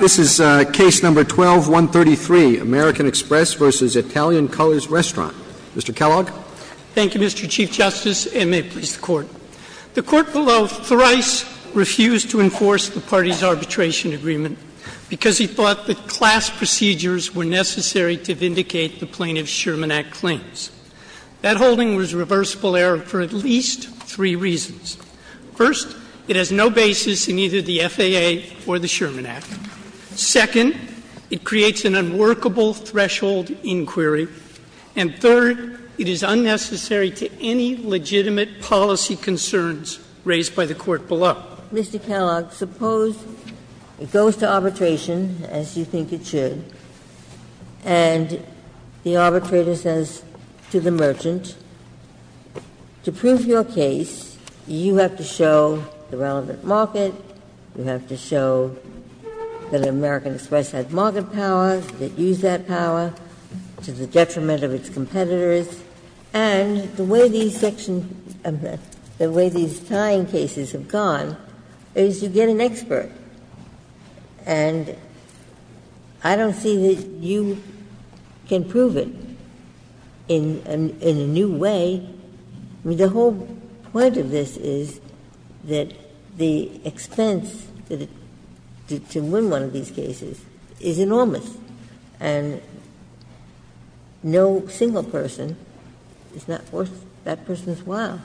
This is Case No. 12-133, American Express v. Italian Colors Restaurant. Mr. Kellogg. Thank you, Mr. Chief Justice, and may it please the Court. The Court below thrice refused to enforce the party's arbitration agreement because he thought that class procedures were necessary to vindicate the plaintiff's Sherman Act claims. That holding was a reversible error for at least three reasons. First, it has no basis in either the FAA or the Sherman Act. Second, it creates an unworkable threshold inquiry. And third, it is unnecessary to any legitimate policy concerns raised by the Court below. Mr. Kellogg, suppose it goes to arbitration, as you think it should, and the arbitrator says to the merchant, to prove your case, you have to show the relevant market, you have to show that American Express had market power, it used that power to the detriment of its competitors, and the way these sections, the way these tying cases have gone is you get an expert and I don't see that you can prove it in a new way. I mean, the whole point of this is that the expense to win one of these cases is enormous and no single person is not worth that person's while.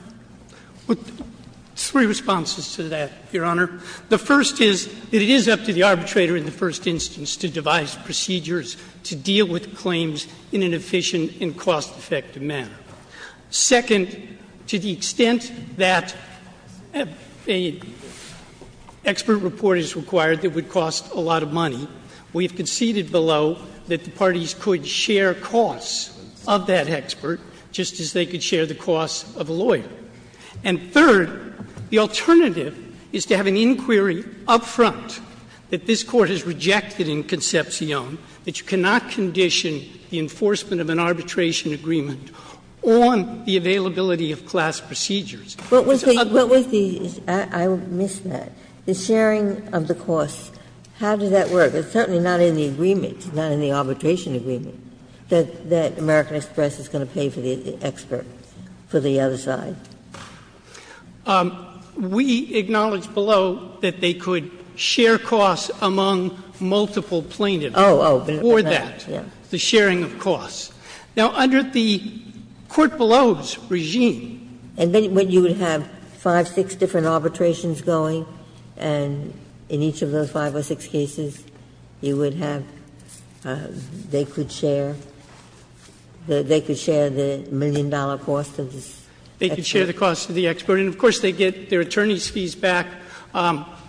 Three responses to that, Your Honor. The first is that it is up to the arbitrator in the first instance to devise procedures to deal with claims in an efficient and cost-effective manner. Second, to the extent that an expert report is required that would cost a lot of money, we have conceded below that the parties could share costs of that expert just as they could share the costs of a lawyer. And third, the alternative is to have an inquiry up front that this Court has rejected in Concepcion that you cannot condition the enforcement of an arbitration agreement on the availability of class procedures. It's ugly. Ginsburg. What was the — I missed that. The sharing of the costs, how does that work? It's certainly not in the agreement, not in the arbitration agreement, that American Express is going to pay for the expert for the other side. We acknowledge below that they could share costs among multiple plaintiffs. Oh, oh. Or that. The sharing of costs. Now, under the Court below's regime. And then you would have five, six different arbitrations going, and in each of those five or six cases, you would have, they could share, they could share the million-dollar cost of this expert. They could share the cost of the expert. And, of course, they get their attorney's fees back,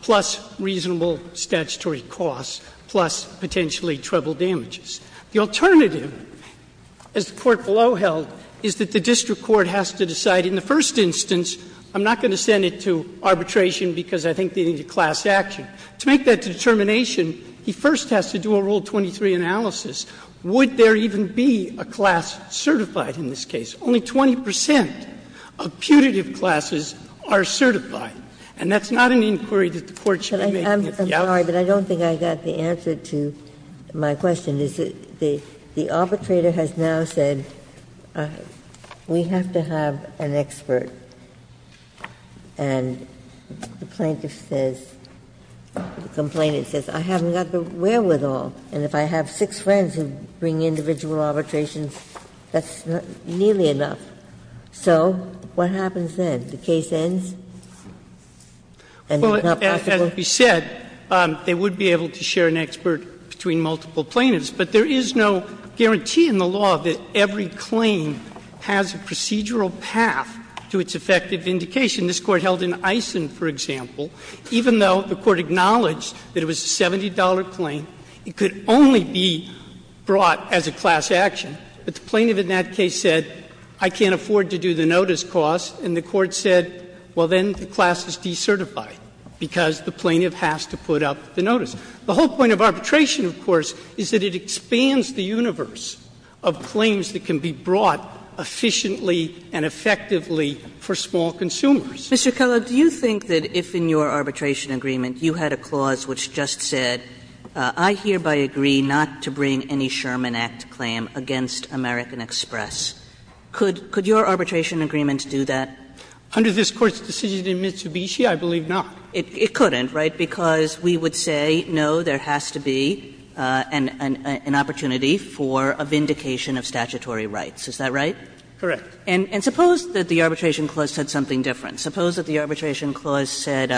plus reasonable statutory costs, plus potentially treble damages. The alternative, as the Court below held, is that the district court has to decide in the first instance, I'm not going to send it to arbitration because I think they need a class action. To make that determination, he first has to do a Rule 23 analysis. Would there even be a class certified in this case? Only 20 percent of putative classes are certified. And that's not an inquiry that the Court should be making. Ginsburg. Ginsburg. I'm sorry, but I don't think I got the answer to my question. And the arbitrator has now said, we have to have an expert. And the plaintiff says, the complainant says, I haven't got the wherewithal. And if I have six friends who bring individual arbitrations, that's nearly enough. So what happens then? The case ends? And it's not possible? And, as we said, they would be able to share an expert between multiple plaintiffs. But there is no guarantee in the law that every claim has a procedural path to its effective indication. This Court held in Eisen, for example, even though the Court acknowledged that it was a $70 claim, it could only be brought as a class action. But the plaintiff in that case said, I can't afford to do the notice cost. And the Court said, well, then the class is decertified, because the plaintiff has to put up the notice. The whole point of arbitration, of course, is that it expands the universe of claims that can be brought efficiently and effectively for small consumers. Kagan. Do you think that, if in your arbitration agreement you had a clause which just said, I hereby agree not to bring any Sherman Act claim against American Express, could your arbitration agreement do that? Under this Court's decision in Mitsubishi, I believe not. It couldn't, right, because we would say, no, there has to be an opportunity for a vindication of statutory rights. Is that right? Correct. And suppose that the arbitration clause said something different. Suppose that the arbitration clause said,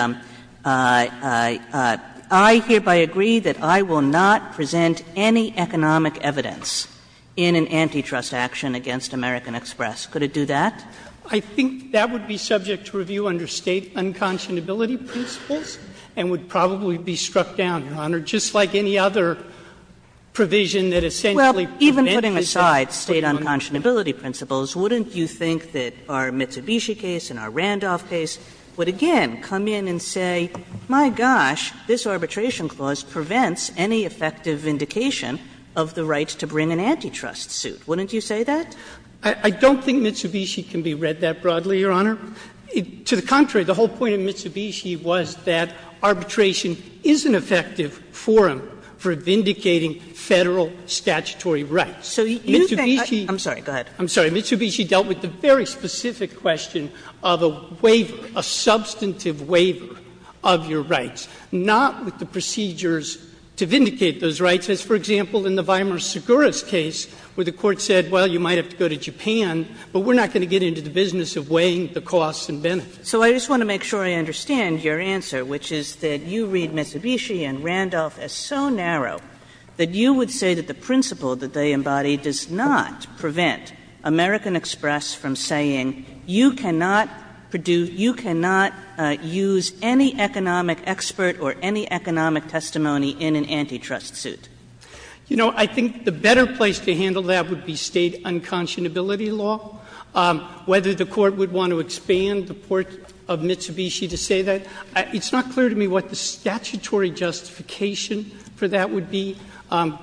I hereby agree that I will not present any economic evidence in an antitrust action against American Express. Could it do that? I think that would be subject to review under State unconscionability principles and would probably be struck down, Your Honor, just like any other provision that essentially prevents this type of argument. Well, even putting aside State unconscionability principles, wouldn't you think that our Mitsubishi case and our Randolph case would again come in and say, my gosh, this arbitration clause prevents any effective vindication of the right to bring an antitrust suit? Wouldn't you say that? I don't think Mitsubishi can be read that broadly, Your Honor. To the contrary, the whole point of Mitsubishi was that arbitration is an effective forum for vindicating Federal statutory rights. So you think that's the case. I'm sorry, go ahead. I'm sorry. Mitsubishi dealt with the very specific question of a waiver, a substantive waiver of your rights. Not with the procedures to vindicate those rights, as, for example, in the Weimar-Sugura case, where the Court said, well, you might have to go to Japan, but we're not going to get into the business of weighing the costs and benefits. So I just want to make sure I understand your answer, which is that you read Mitsubishi and Randolph as so narrow that you would say that the principle that they embody does not prevent American Express from saying you cannot produce, you cannot use any economic expert or any economic testimony in an antitrust suit. You know, I think the better place to handle that would be State unconscionability law. Whether the Court would want to expand the port of Mitsubishi to say that, it's not clear to me what the statutory justification for that would be,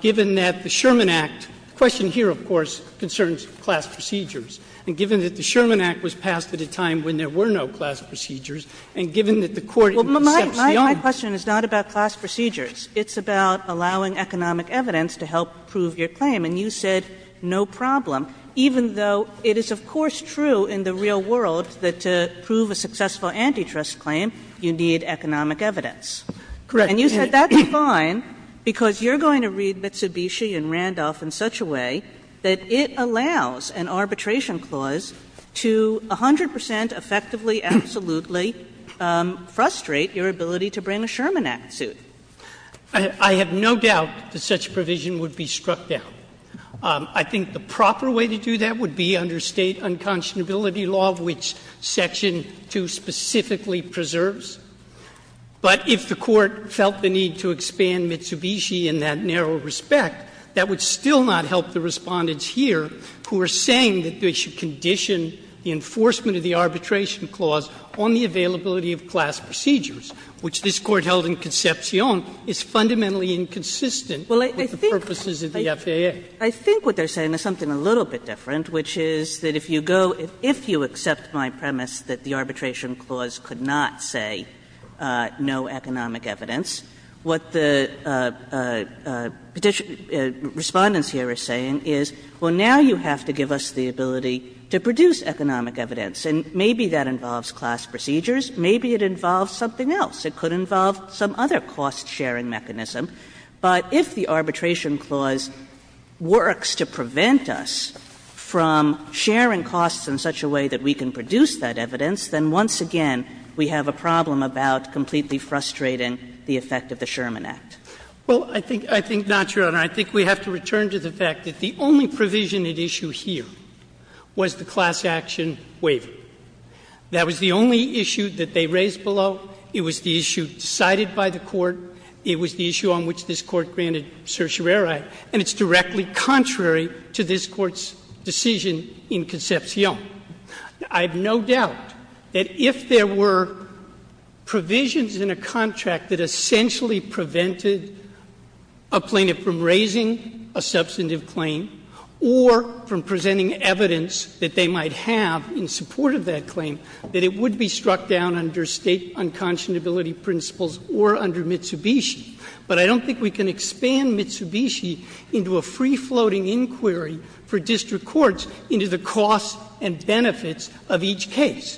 given that the Sherman Act — the question here, of course, concerns class procedures. And given that the Sherman Act was passed at a time when there were no class procedures and given that the Court steps beyond — Kagan. Well, my question is not about class procedures. It's about allowing economic evidence to help prove your claim. And you said no problem, even though it is, of course, true in the real world that to prove a successful antitrust claim, you need economic evidence. Correct. And you said that's fine, because you're going to read Mitsubishi and Randolph in such a way that it allows an arbitration clause to 100 percent effectively, absolutely frustrate your ability to bring a Sherman Act suit. I have no doubt that such provision would be struck down. I think the proper way to do that would be under State unconscionability law, which Section 2 specifically preserves. But if the Court felt the need to expand Mitsubishi in that narrow respect, that would still not help the Respondents here, who are saying that they should condition the enforcement of the arbitration clause on the availability of class procedures, which this Court held in Concepcion is fundamentally inconsistent with the purposes of the FAA. I think what they're saying is something a little bit different, which is that if you go — if you accept my premise that the arbitration clause could not say no economic evidence, what the Respondents here are saying is, well, now you have to give us the best economic evidence, and maybe that involves class procedures, maybe it involves something else. It could involve some other cost-sharing mechanism. But if the arbitration clause works to prevent us from sharing costs in such a way that we can produce that evidence, then once again we have a problem about completely frustrating the effect of the Sherman Act. Well, I think — I think not, Your Honor. I think we have to return to the fact that the only provision at issue here was the class action waiver. That was the only issue that they raised below. It was the issue decided by the Court. It was the issue on which this Court granted certiorari. And it's directly contrary to this Court's decision in Concepcion. I have no doubt that if there were provisions in a contract that essentially prevented a plaintiff from raising a substantive claim or from presenting evidence that they might have in support of that claim, that it would be struck down under State unconscionability principles or under Mitsubishi. But I don't think we can expand Mitsubishi into a free-floating inquiry for district courts into the costs and benefits of each case.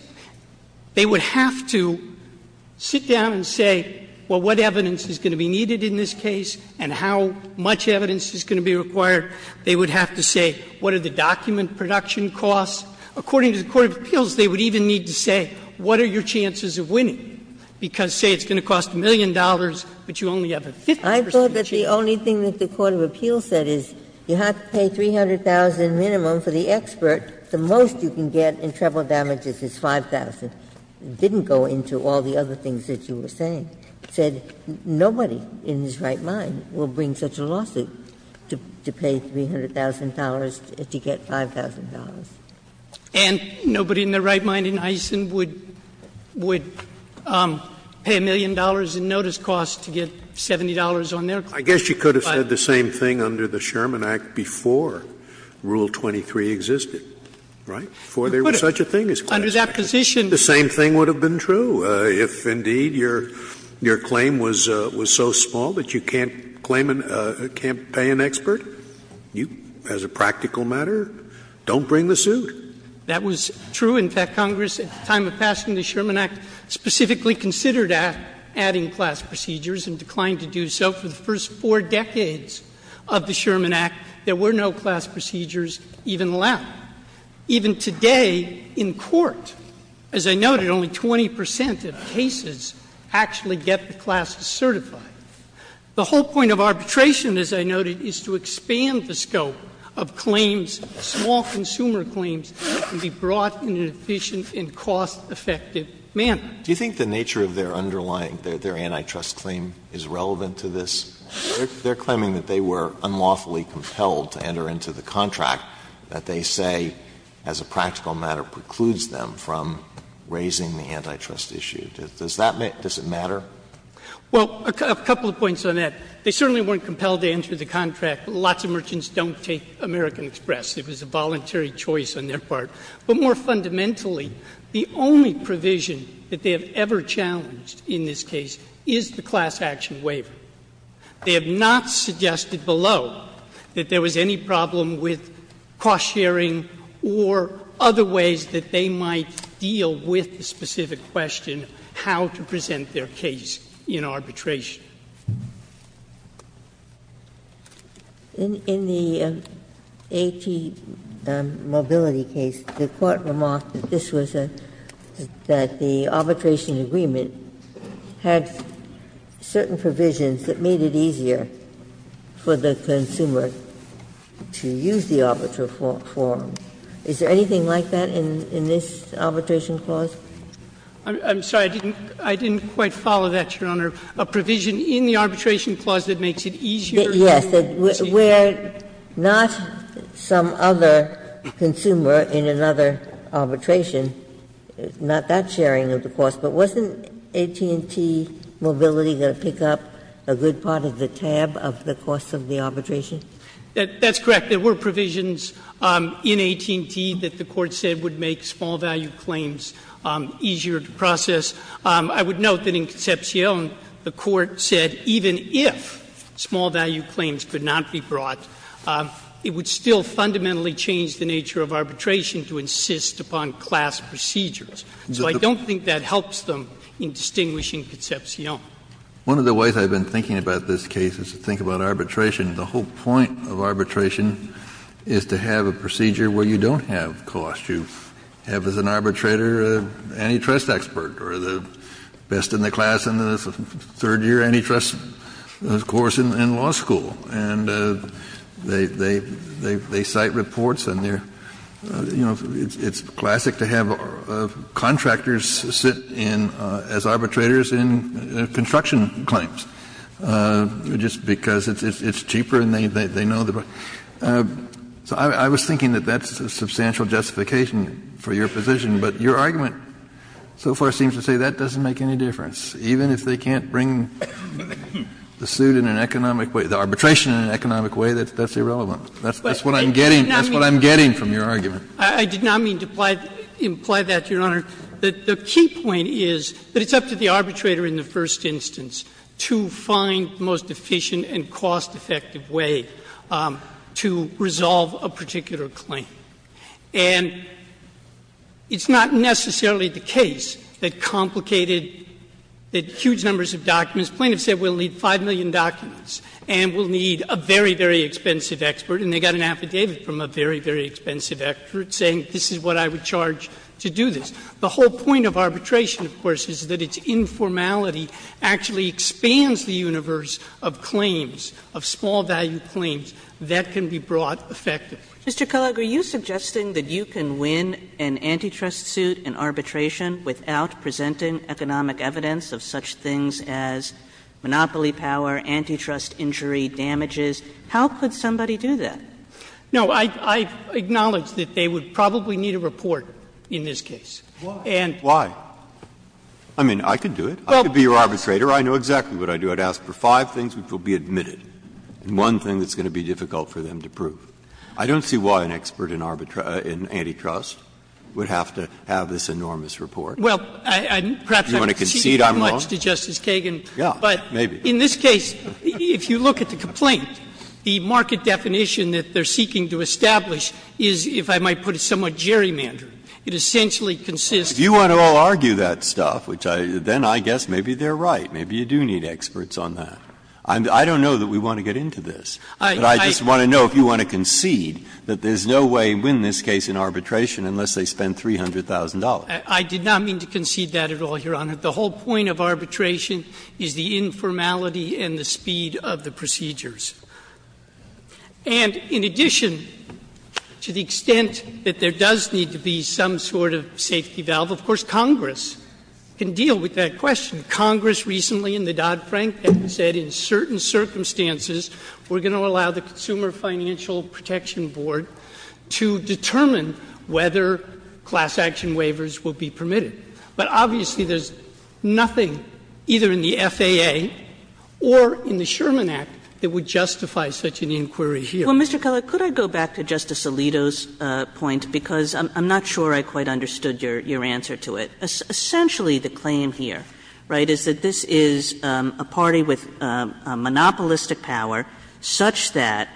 They would have to sit down and say, well, what evidence is going to be needed in this case and how much evidence is going to be required? They would have to say, what are the document production costs? According to the court of appeals, they would even need to say, what are your chances of winning? Because, say, it's going to cost a million dollars, but you only have a 50 percent chance. Ginsburg. I thought that the only thing that the court of appeals said is you have to pay $300,000 minimum for the expert. The most you can get in treble damages is $5,000. It didn't go into all the other things that you were saying. But the court of appeals said, nobody in his right mind will bring such a lawsuit to pay $300,000 to get $5,000. And nobody in their right mind in Eisen would pay a million dollars in notice costs to get $70 on their claim. I guess you could have said the same thing under the Sherman Act before Rule 23 existed, right? Before there was such a thing as class action. Under that position. The same thing would have been true. If, indeed, your claim was so small that you can't pay an expert, as a practical matter, don't bring the suit. That was true. In fact, Congress, at the time of passing the Sherman Act, specifically considered adding class procedures and declined to do so. For the first four decades of the Sherman Act, there were no class procedures even allowed. Now, even today in court, as I noted, only 20 percent of cases actually get the class to certify. The whole point of arbitration, as I noted, is to expand the scope of claims, small consumer claims, that can be brought in an efficient and cost-effective manner. Do you think the nature of their underlying, their antitrust claim, is relevant to this? They're claiming that they were unlawfully compelled to enter into the contract, that they say, as a practical matter, precludes them from raising the antitrust issue. Does that make — does it matter? Well, a couple of points on that. They certainly weren't compelled to enter the contract. Lots of merchants don't take American Express. It was a voluntary choice on their part. But more fundamentally, the only provision that they have ever challenged in this case is the class action waiver. They have not suggested below that there was any problem with cost-sharing or other ways that they might deal with the specific question, how to present their case in arbitration. Ginsburg. In the A.T. Mobility case, the Court remarked that this was a — that the arbitration agreement had certain provisions that made it easier for the consumer to use the arbitral form. Is there anything like that in this arbitration clause? I'm sorry. I didn't quite follow that, Your Honor. A provision in the arbitration clause that makes it easier to use the arbitration clause. Yes. Where not some other consumer in another arbitration, not that sharing of the cost, but wasn't A.T. and T. Mobility going to pick up a good part of the tab of the cost of the arbitration? That's correct. There were provisions in A.T. and T. that the Court said would make small value claims easier to process. I would note that in Concepcion, the Court said even if small value claims could not be brought, it would still fundamentally change the nature of arbitration to insist upon class procedures. So I don't think that helps them in distinguishing Concepcion. One of the ways I've been thinking about this case is to think about arbitration. The whole point of arbitration is to have a procedure where you don't have cost. You have as an arbitrator an antitrust expert or the best in the class in the third year antitrust course in law school. And they cite reports and they're, you know, it's classic to have contractors sit in as arbitrators in construction claims just because it's cheaper and they know the price. So I was thinking that that's a substantial justification for your position. But your argument so far seems to say that doesn't make any difference. Even if they can't bring the suit in an economic way, the arbitration in an economic way, that's irrelevant. That's what I'm getting. That's what I'm getting from your argument. I did not mean to imply that, Your Honor. The key point is that it's up to the arbitrator in the first instance to find the most efficient and cost-effective way to resolve a particular claim. And it's not necessarily the case that complicated, that huge numbers of documents — plaintiffs said we'll need 5 million documents and we'll need a very, very expensive expert, and they got an affidavit from a very, very expensive expert saying this is what I would charge to do this. The whole point of arbitration, of course, is that its informality actually expands the universe of claims, of small value claims that can be brought effectively. Kagan. Mr. Kellogg, are you suggesting that you can win an antitrust suit in arbitration without presenting economic evidence of such things as monopoly power, antitrust injury, damages? How could somebody do that? No, I acknowledge that they would probably need a report in this case. And why? I mean, I could do it. I could be your arbitrator. I know exactly what I'd do. I'd ask for five things which will be admitted, and one thing that's going to be difficult for them to prove. I don't see why an expert in antitrust would have to have this enormous report. Well, perhaps I'm conceding too much to Justice Kagan, but in this case, if you look at the complaint, the market definition that they're seeking to establish is, if I might put it somewhat gerrymandering. It essentially consists of the market definition that they're seeking to establish. If you want to all argue that stuff, then I guess maybe they're right, maybe you do need experts on that. I don't know that we want to get into this, but I just want to know if you want to concede that there's no way to win this case in arbitration unless they spend $300,000. I did not mean to concede that at all, Your Honor. The whole point of arbitration is the informality and the speed of the procedures. And in addition, to the extent that there does need to be some sort of safety valve, of course, Congress can deal with that question. Congress recently in the Dodd-Frank Act said, in certain circumstances, we're going to allow the Consumer Financial Protection Board to determine whether class action waivers will be permitted. But obviously, there's nothing, either in the FAA or in the Sherman Act, that would justify such an inquiry here. Kagan. Kagan. Well, Mr. Kellogg, could I go back to Justice Alito's point, because I'm not sure I quite understood your answer to it. Essentially, the claim here, right, is that this is a party with a monopolistic power such that,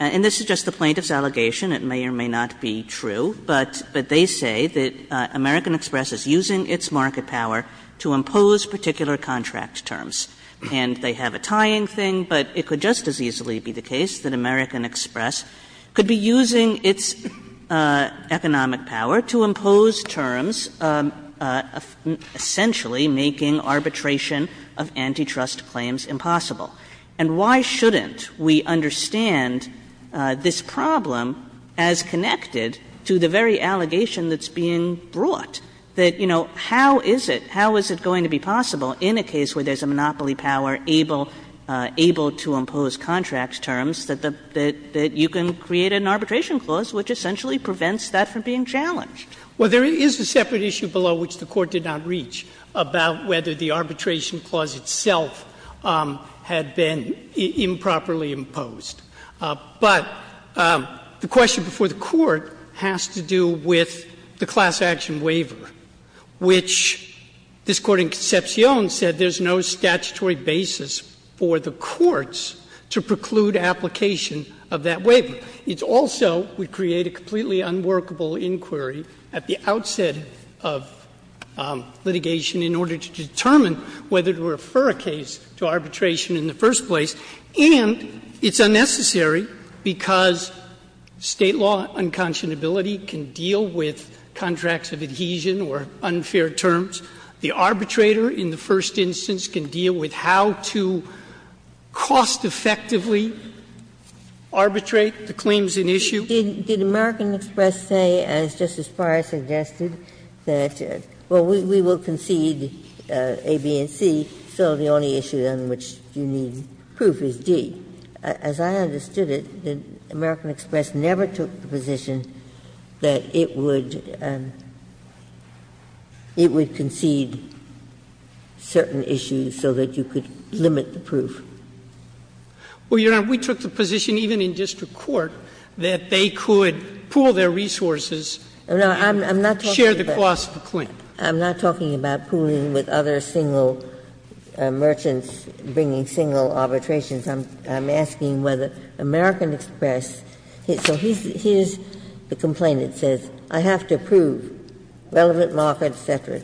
and this is just the plaintiff's allegation, it may or may not be true, but they say that American Express is using its market power to impose particular contract terms. And they have a tying thing, but it could just as easily be the case that American Express could be using its economic power to impose terms essentially making arbitration of antitrust claims impossible. And why shouldn't we understand this problem as connected to the very allegation that's being brought, that, you know, how is it, how is it going to be possible in a case where there's a monopoly power able to impose contract terms that you can create an arbitration clause which essentially prevents that from being challenged? Well, there is a separate issue below which the Court did not reach about whether the arbitration clause itself had been improperly imposed. But the question before the Court has to do with the class action waiver, which this Court in Concepcion said there's no statutory basis for the courts to preclude application of that waiver. It's also, we create a completely unworkable inquiry at the outset of litigation in order to determine whether to refer a case to arbitration in the first place. And it's unnecessary because State law unconscionability can deal with contracts of adhesion or unfair terms. The arbitrator in the first instance can deal with how to cost-effectively arbitrate the claims in issue. Did American Express say, as Justice Breyer suggested, that, well, we will concede A, B, and C, so the only issue on which you need proof is D? As I understood it, American Express never took the position that it would concede Well, Your Honor, we took the position, even in district court, that they could pool their resources and share the cost of the claim. I'm not talking about pooling with other single merchants, bringing single arbitrations. I'm asking whether American Express, so here's the complaint, it says, I have to prove relevant markets, et cetera,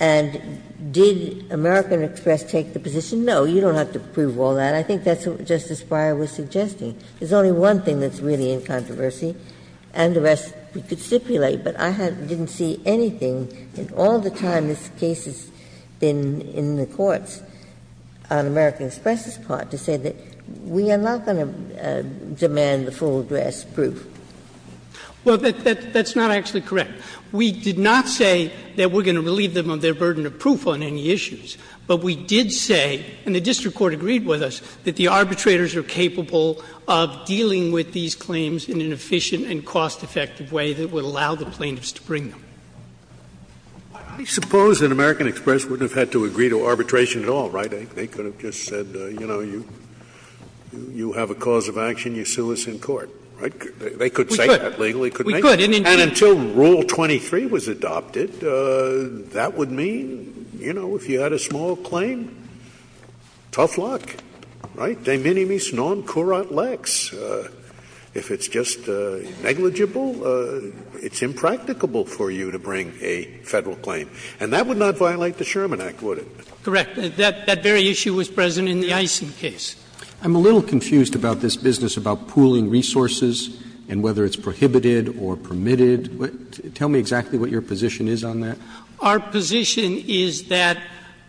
and did American Express take the position, no, you don't have to prove all that? I think that's what Justice Breyer was suggesting. There's only one thing that's really in controversy, and the rest we could stipulate, but I didn't see anything in all the time this case has been in the courts on American Express's part to say that we are not going to demand the full address proof. Well, that's not actually correct. We did not say that we're going to relieve them of their burden of proof on any issues, but we did say, and the district court agreed with us, that the arbitrators are capable of dealing with these claims in an efficient and cost-effective way that would allow the plaintiffs to bring them. I suppose that American Express wouldn't have had to agree to arbitration at all, right? They could have just said, you know, you have a cause of action, you sue us in court. Right? They could say that legally. We could. We could. And until Rule 23 was adopted, that would mean, you know, if you had a small claim, tough luck, right? De minimis non curat lex. If it's just negligible, it's impracticable for you to bring a Federal claim. And that would not violate the Sherman Act, would it? Correct. That very issue was present in the Eisen case. I'm a little confused about this business about pooling resources and whether it's prohibited or permitted. Tell me exactly what your position is on that. Our position is that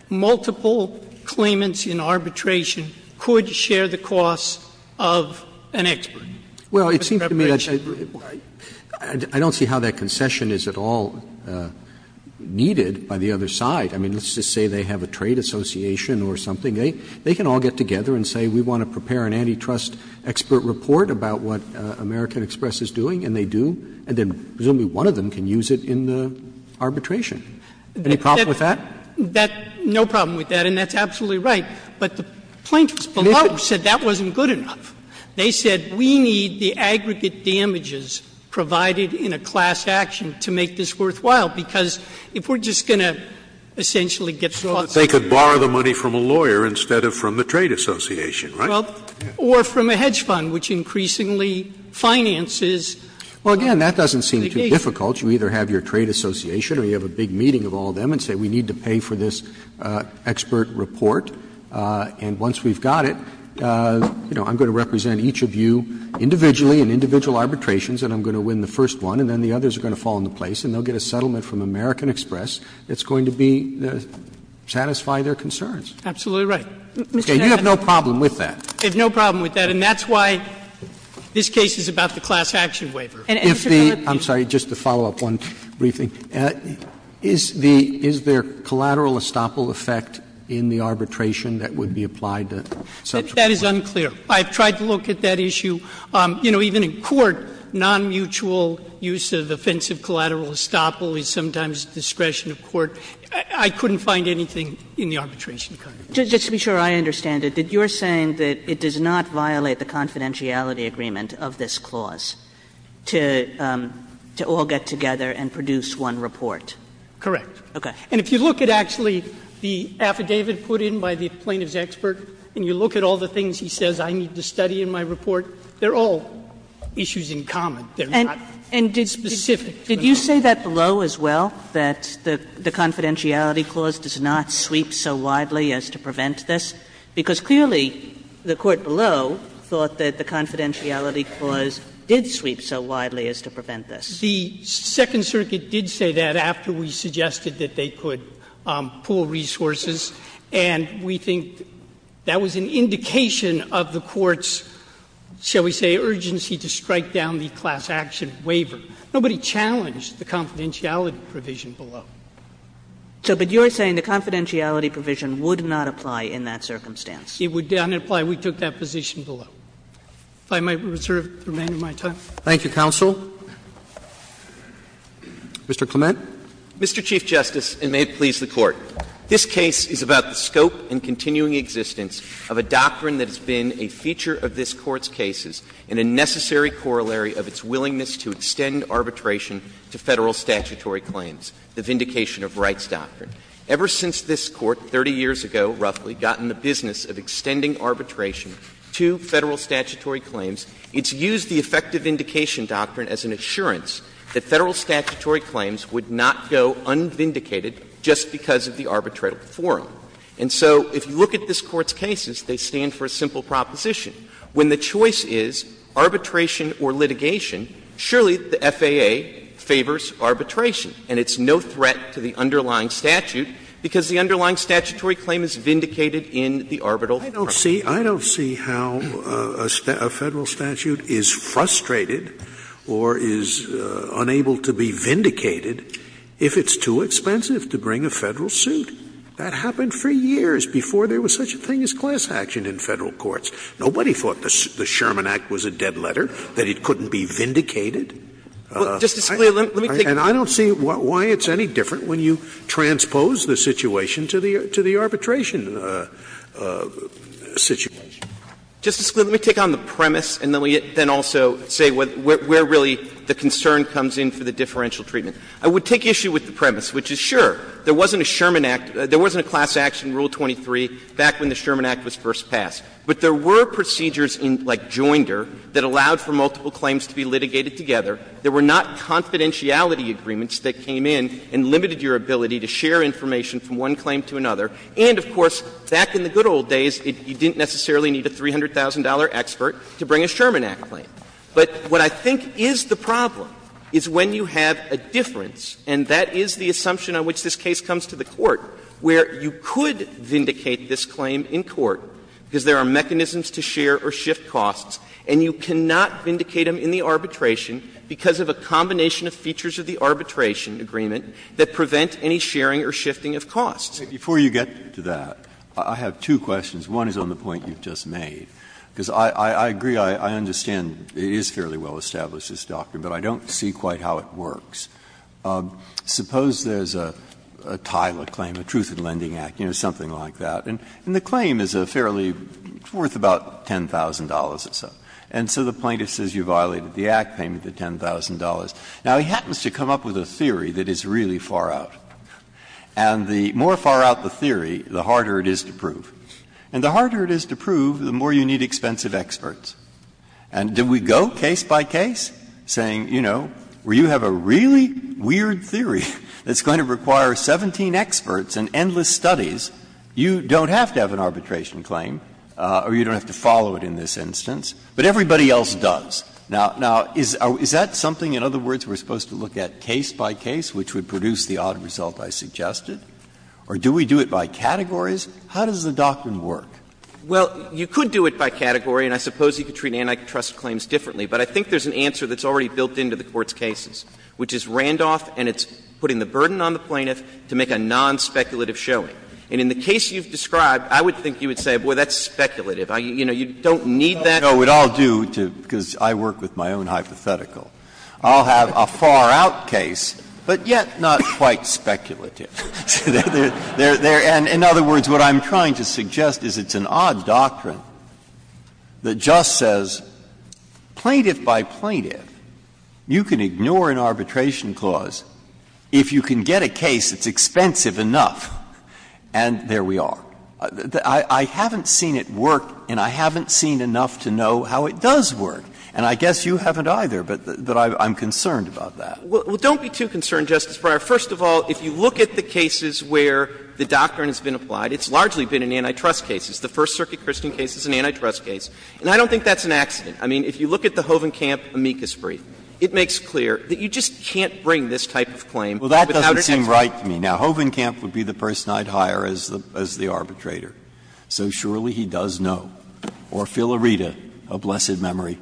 multiple claimants in arbitration could share the costs of an expert. Well, it seems to me that I don't see how that concession is at all needed by the other side. I mean, let's just say they have a trade association or something. They can all get together and say, we want to prepare an antitrust expert report about what American Express is doing, and they do. And then presumably one of them can use it in the arbitration. Any problem with that? That no problem with that, and that's absolutely right. But the plaintiffs below said that wasn't good enough. They said we need the aggregate damages provided in a class action to make this worthwhile, because if we're just going to essentially get costs of the lawyer. But they could borrow the money from a lawyer instead of from the trade association, right? Well, or from a hedge fund, which increasingly finances. Well, again, that doesn't seem too difficult. You either have your trade association or you have a big meeting of all of them and say we need to pay for this expert report, and once we've got it, you know, I'm going to represent each of you individually in individual arbitrations, and I'm going to win the first one, and then the others are going to fall into place, and they'll get a settlement from American Express that's going to be the – satisfy their concerns. Absolutely right. Mr. Sotomayor, you have no problem with that. I have no problem with that, and that's why this case is about the class action waiver. And, Mr. Ferrer, if the – I'm sorry. Just to follow up on a brief thing, is the – is there collateral estoppel effect in the arbitration that would be applied to such a court? That is unclear. I've tried to look at that issue. You know, even in court, nonmutual use of offensive collateral estoppel is sometimes at the discretion of court. I couldn't find anything in the arbitration context. Just to be sure I understand it, you're saying that it does not violate the confidentiality agreement of this clause to all get together and produce one report? Correct. Okay. And if you look at actually the affidavit put in by the plaintiff's expert, and you look at all the things he says I need to study in my report, they're all issues in common. They're not specific to an arbitration. Did you say that below as well, that the confidentiality clause does not sweep so widely as to prevent this? Because clearly the court below thought that the confidentiality clause did sweep so widely as to prevent this. The Second Circuit did say that after we suggested that they could pool resources, and we think that was an indication of the court's, shall we say, urgency to strike down the class action waiver. Nobody challenged the confidentiality provision below. So, but you're saying the confidentiality provision would not apply in that circumstance? It would not apply. We took that position below. If I might reserve the remainder of my time. Thank you, counsel. Mr. Clement. Mr. Chief Justice, and may it please the Court. This case is about the scope and continuing existence of a doctrine that has been a feature of this Court's cases and a necessary corollary of its willingness to extend arbitration to Federal statutory claims, the Vindication of Rights Doctrine. Ever since this Court, 30 years ago roughly, got in the business of extending arbitration to Federal statutory claims, it's used the effective vindication doctrine as an assurance that Federal statutory claims would not go unvindicated just because of the arbitratable forum. And so if you look at this Court's cases, they stand for a simple proposition. When the choice is arbitration or litigation, surely the FAA favors arbitration, and it's no threat to the underlying statute, because the underlying statutory claim is vindicated in the arbitral forum. I don't see how a Federal statute is frustrated or is unable to be vindicated if it's too expensive to bring a Federal suit. That happened for years before there was such a thing as class action in Federal courts. Nobody thought the Sherman Act was a dead letter, that it couldn't be vindicated. And I don't see why it's any different when you transpose the situation to the arbitration situation. Clements. Justice Scalia, let me take on the premise and then also say where really the concern comes in for the differential treatment. I would take issue with the premise, which is, sure, there wasn't a Sherman Act — there wasn't a class action rule 23 back when the Sherman Act was first passed. But there were procedures in, like, Joinder that allowed for multiple claims to be litigated together. There were not confidentiality agreements that came in and limited your ability to share information from one claim to another. And, of course, back in the good old days, you didn't necessarily need a $300,000 expert to bring a Sherman Act claim. But what I think is the problem is when you have a difference, and that is the assumption on which this case comes to the Court, where you could vindicate this claim in court, because there are mechanisms to share or shift costs, and you cannot vindicate them in the arbitration because of a combination of features of the arbitration agreement that prevent any sharing or shifting of costs. Breyer. Before you get to that, I have two questions. One is on the point you've just made, because I agree, I understand it is fairly well established, this doctrine, but I don't see quite how it works. Suppose there's a TILA claim, a Truth in Lending Act, you know, something like that. And the claim is a fairly – it's worth about $10,000 or so. And so the plaintiff says you violated the Act payment of $10,000. Now, he happens to come up with a theory that is really far out. And the more far out the theory, the harder it is to prove. And the harder it is to prove, the more you need expensive experts. And do we go case by case, saying, you know, where you have a really weird theory that's going to require 17 experts and endless studies, you don't have to have an arbitration claim or you don't have to follow it in this instance, but everybody else does? Now, is that something, in other words, we're supposed to look at case by case, which would produce the odd result I suggested? Or do we do it by categories? How does the doctrine work? Well, you could do it by category, and I suppose you could treat antitrust claims differently, but I think there's an answer that's already built into the Court's case, which is Randolph, and it's putting the burden on the plaintiff to make a nonspeculative showing. And in the case you've described, I would think you would say, boy, that's speculative. You know, you don't need that. Breyer, because I work with my own hypothetical. I'll have a far-out case, but yet not quite speculative. And in other words, what I'm trying to suggest is it's an odd doctrine that just says plaintiff by plaintiff, you can ignore an arbitration clause if you can get a case that's expensive enough, and there we are. I haven't seen it work, and I haven't seen enough to know how it does work. And I guess you haven't either, but I'm concerned about that. Well, don't be too concerned, Justice Breyer. First of all, if you look at the cases where the doctrine has been applied, it's largely been in antitrust cases. The First Circuit Christian case is an antitrust case. And I don't think that's an accident. I mean, if you look at the Hovenkamp amicus brief, it makes clear that you just can't bring this type of claim without an expert. Well, that doesn't seem right to me. Now, Hovenkamp would be the person I'd hire as the arbitrator, so surely he does know, or Filarita, a blessed memory.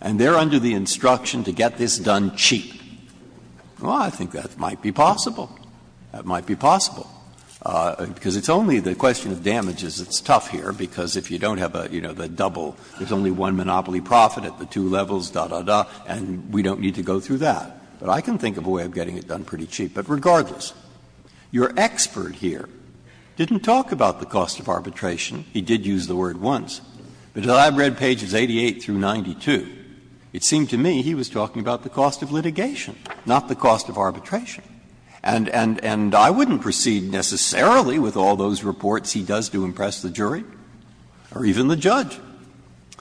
And they're under the instruction to get this done cheap. Well, I think that might be possible. That might be possible. Because it's only the question of damages that's tough here, because if you don't have a, you know, the double, there's only one monopoly profit at the two levels, da, da, da, and we don't need to go through that. But I can think of a way of getting it done pretty cheap. But regardless, your expert here didn't talk about the cost of arbitration. He did use the word once. But as I've read pages 88 through 92, it seemed to me he was talking about the cost of litigation, not the cost of arbitration. And I wouldn't proceed necessarily with all those reports he does to impress the jury or even the judge.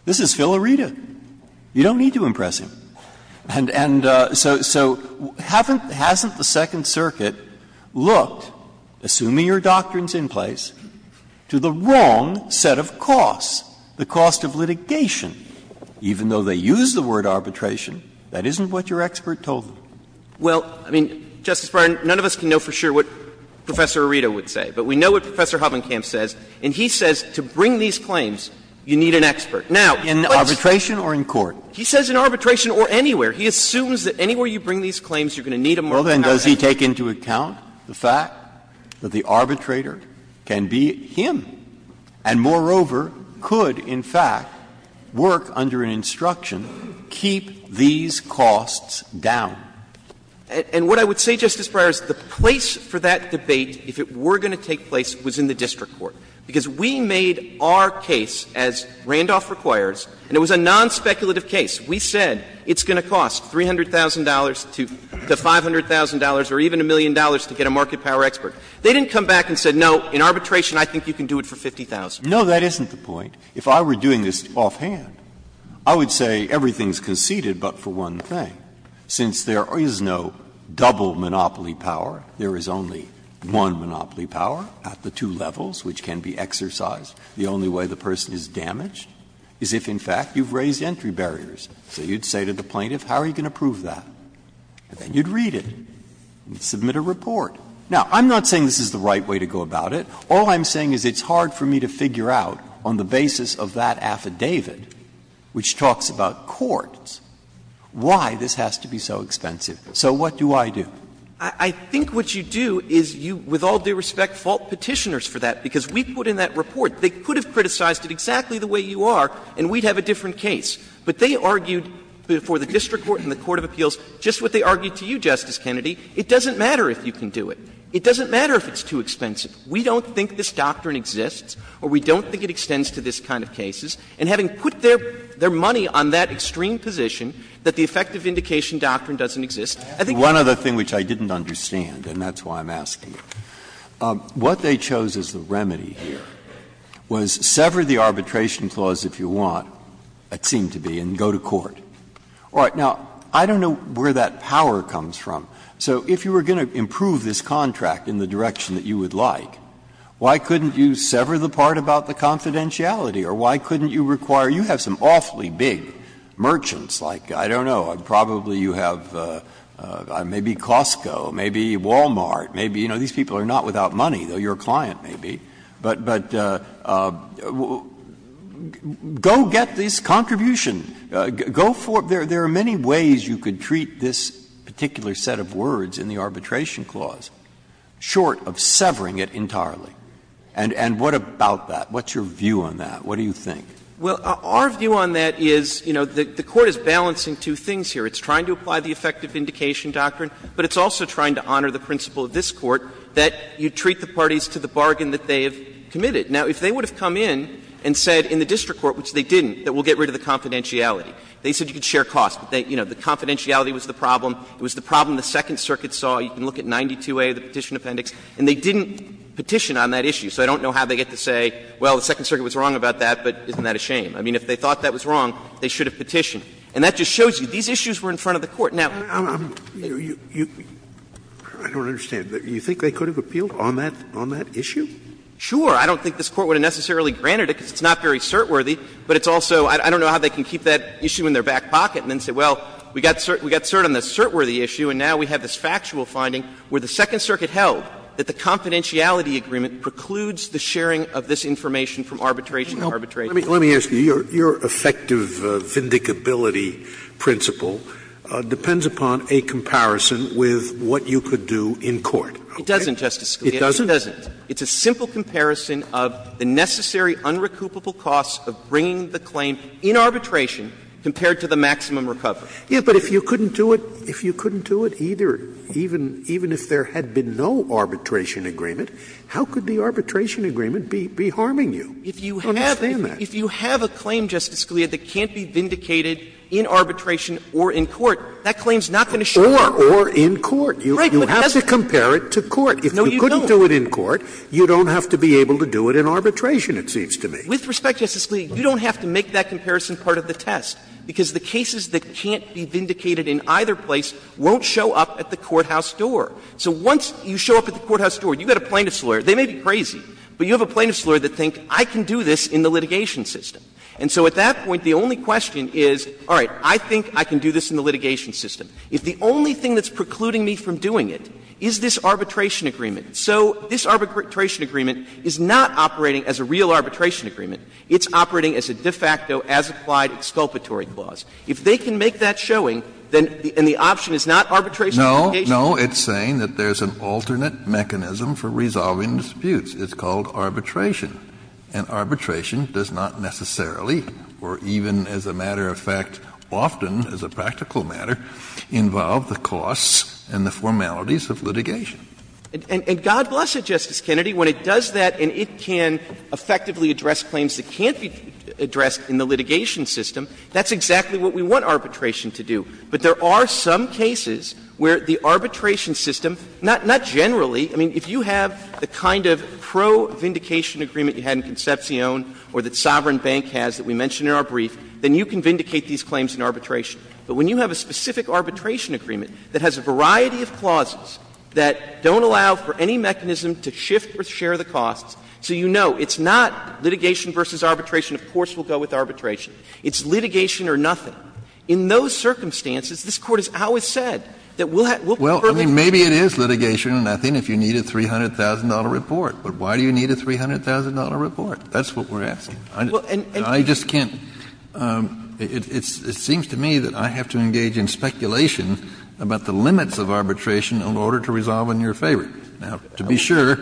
This is Filarita. You don't need to impress him. And so, so, haven't, hasn't the Second Circuit looked, assuming your doctrine's in place, to the wrong set of costs, the cost of litigation, even though they use the word arbitration? That isn't what your expert told them. Well, I mean, Justice Breyer, none of us can know for sure what Professor Arita would say. But we know what Professor Hovenkamp says. And he says to bring these claims, you need an expert. Now, let's — In arbitration or in court? He says in arbitration or anywhere. He assumes that anywhere you bring these claims, you're going to need a more competent expert. Well, then, does he take into account the fact that the arbitrator can be him and, moreover, could, in fact, work under an instruction, keep these costs down? And what I would say, Justice Breyer, is the place for that debate, if it were going to take place, was in the district court. Because we made our case, as Randolph requires, and it was a nonspeculative case. We said it's going to cost $300,000 to $500,000 or even a million dollars to get a market power expert. They didn't come back and say, no, in arbitration, I think you can do it for 50,000. No, that isn't the point. If I were doing this offhand, I would say everything is conceded but for one thing. Since there is no double monopoly power, there is only one monopoly power at the two levels which can be exercised. The only way the person is damaged is if, in fact, you've raised entry barriers. So you'd say to the plaintiff, how are you going to prove that? And then you'd read it and submit a report. Now, I'm not saying this is the right way to go about it. All I'm saying is it's hard for me to figure out, on the basis of that affidavit, which talks about courts, why this has to be so expensive. So what do I do? I think what you do is you, with all due respect, fault Petitioners for that, because we put in that report, they could have criticized it exactly the way you are and we'd have a different case. But they argued before the district court and the court of appeals just what they argued to you, Justice Kennedy. It doesn't matter if you can do it. It doesn't matter if it's too expensive. We don't think this doctrine exists or we don't think it extends to this kind of cases. And having put their money on that extreme position, that the effective indication doctrine doesn't exist, I think it's a bad case. And that's why I'm asking you. What they chose as the remedy here was sever the arbitration clause if you want, it seemed to be, and go to court. All right. Now, I don't know where that power comes from. So if you were going to improve this contract in the direction that you would like, why couldn't you sever the part about the confidentiality, or why couldn't you require you have some awfully big merchants, like, I don't know, probably you have maybe Costco, maybe Wal-Mart, maybe, you know, these people are not without money, though you're a client, maybe, but go get this contribution. Go for it. There are many ways you could treat this particular set of words in the arbitration clause, short of severing it entirely. And what about that? What's your view on that? What do you think? Well, our view on that is, you know, the Court is balancing two things here. It's trying to apply the effective indication doctrine. But it's also trying to honor the principle of this Court that you treat the parties to the bargain that they have committed. Now, if they would have come in and said in the district court, which they didn't, that we'll get rid of the confidentiality. They said you could share costs. But, you know, the confidentiality was the problem. It was the problem the Second Circuit saw. You can look at 92A, the petition appendix, and they didn't petition on that issue. So I don't know how they get to say, well, the Second Circuit was wrong about that, but isn't that a shame? I mean, if they thought that was wrong, they should have petitioned. And that just shows you these issues were in front of the Court. Now, I'm you know, you, I don't understand. You think they could have appealed on that issue? Sure. I don't think this Court would have necessarily granted it because it's not very cert-worthy. But it's also, I don't know how they can keep that issue in their back pocket and then say, well, we got cert on this cert-worthy issue and now we have this factual finding where the Second Circuit held that the confidentiality agreement precludes the sharing of this information from arbitration to arbitration. Scalia, let me ask you, your effective vindicability principle depends upon a comparison with what you could do in court. It doesn't, Justice Scalia. It doesn't? It doesn't. It's a simple comparison of the necessary unrecoupable costs of bringing the claim in arbitration compared to the maximum recovery. Yes, but if you couldn't do it, if you couldn't do it either, even if there had been no arbitration agreement, how could the arbitration agreement be harming you? I don't understand that. If you have a claim, Justice Scalia, that can't be vindicated in arbitration or in court, that claim is not going to show up. Or in court. You have to compare it to court. If you couldn't do it in court, you don't have to be able to do it in arbitration, it seems to me. With respect, Justice Scalia, you don't have to make that comparison part of the test, because the cases that can't be vindicated in either place won't show up at the courthouse door. So once you show up at the courthouse door, you've got a plaintiff's lawyer, they may be crazy, but you have a plaintiff's lawyer that thinks, I can do this in the litigation system. And so at that point, the only question is, all right, I think I can do this in the litigation system. If the only thing that's precluding me from doing it is this arbitration agreement, so this arbitration agreement is not operating as a real arbitration agreement, it's operating as a de facto, as-applied exculpatory clause. If they can make that showing, then the option is not arbitration litigation. Kennedy, you know, it's saying that there's an alternate mechanism for resolving disputes. It's called arbitration. And arbitration does not necessarily, or even as a matter of fact, often, as a practical matter, involve the costs and the formalities of litigation. And God bless it, Justice Kennedy, when it does that and it can effectively address claims that can't be addressed in the litigation system, that's exactly what we want arbitration to do. But there are some cases where the arbitration system, not generally, I mean, if you have the kind of pro-vindication agreement you had in Concepcion or that Sovereign Bank has that we mentioned in our brief, then you can vindicate these claims in arbitration. But when you have a specific arbitration agreement that has a variety of clauses that don't allow for any mechanism to shift or share the costs, so you know it's not litigation versus arbitration, of course we'll go with arbitration, it's litigation or nothing. In those circumstances, this Court has always said that we'll prefer litigation. Kennedy, I would say that, I mean, shame on them, but I would say that, I mean, shame I would say that, I mean, shame on the Court of Appeals, that's what we're asking. Now, to be sure,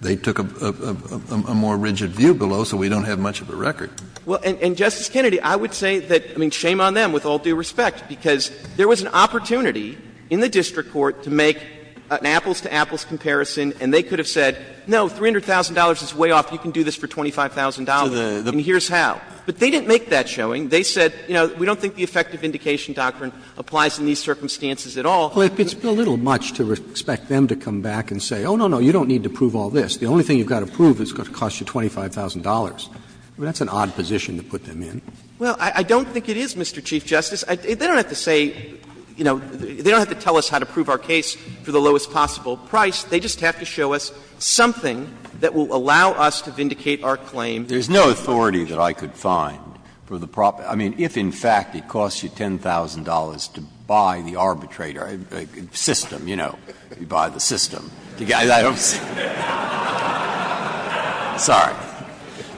they took a more rigid view below, so we don't have much of a record. Well, and Justice Kennedy, I would say that, I mean, shame on them, with all due respect, because there was an opportunity in the district court to make an apples-to-apples comparison, and they could have said, no, $300,000 is way off, you can do this for $25,000, and here's how. But they didn't make that showing. They said, you know, we don't think the effective indication doctrine applies in these circumstances at all. Roberts. Well, it's a little much to expect them to come back and say, oh, no, no, you don't need to prove all this. The only thing you've got to prove is it's going to cost you $25,000. I mean, that's an odd position to put them in. Well, I don't think it is, Mr. Chief Justice. They don't have to say, you know, they don't have to tell us how to prove our case for the lowest possible price. They just have to show us something that will allow us to vindicate our claim. There's no authority that I could find for the proper – I mean, if, in fact, it costs you $10,000 to buy the arbitrator – system, you know, you buy the system. I don't see – sorry.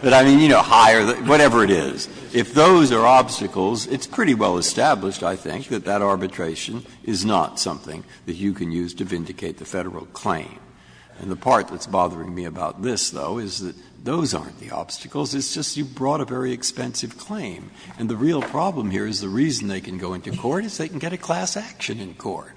But, I mean, you know, hire the – whatever it is. If those are obstacles, it's pretty well established, I think, that that arbitration is not something that you can use to vindicate the Federal claim. And the part that's bothering me about this, though, is that those aren't the obstacles. It's just you brought a very expensive claim. And the real problem here is the reason they can go into court is they can get a class action in court.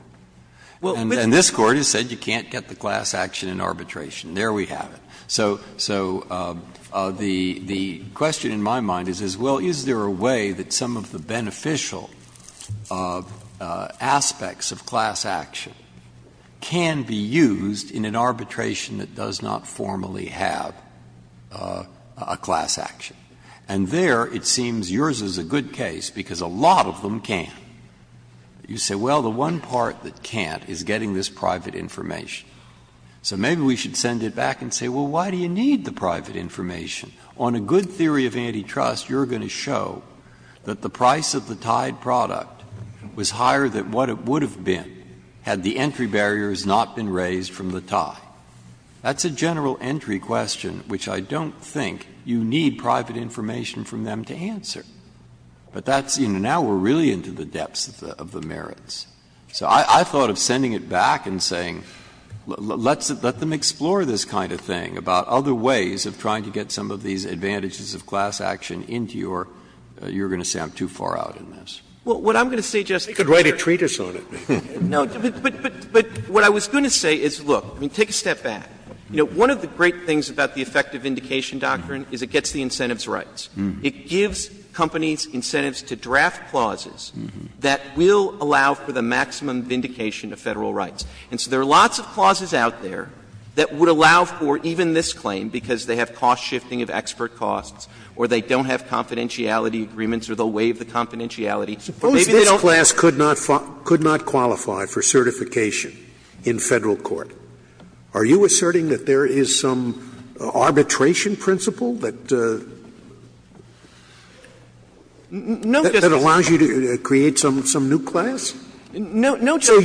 And this Court has said you can't get the class action in arbitration. There we have it. So the question in my mind is, well, is there a way that some of the beneficial aspects of class action can be used in an arbitration that does not formally have a class action? And there it seems yours is a good case, because a lot of them can. You say, well, the one part that can't is getting this private information. So maybe we should send it back and say, well, why do you need the private information? On a good theory of antitrust, you're going to show that the price of the tied product was higher than what it would have been had the entry barriers not been raised from the tie. That's a general entry question, which I don't think you need private information from them to answer. But that's the end. Now we're really into the depths of the merits. So I thought of sending it back and saying, let's let them explore this kind of thing about other ways of trying to get some of these advantages of class action into your you're going to say I'm too far out in this. Clements, I could write a treatise on it. Clements, But what I was going to say is, look, take a step back. One of the great things about the effective indication doctrine is it gets the incentives rights. It gives companies incentives to draft clauses that will allow for the maximum vindication of Federal rights. And so there are lots of clauses out there that would allow for even this claim, because they have cost shifting of expert costs or they don't have confidentiality agreements or they'll waive the confidentiality. But maybe they don't. Scalia. Suppose this class could not qualify for certification in Federal court. Are you asserting that there is some arbitration principle that allows you to create some new class? Clements, No, Justice Scalia. Scalia. So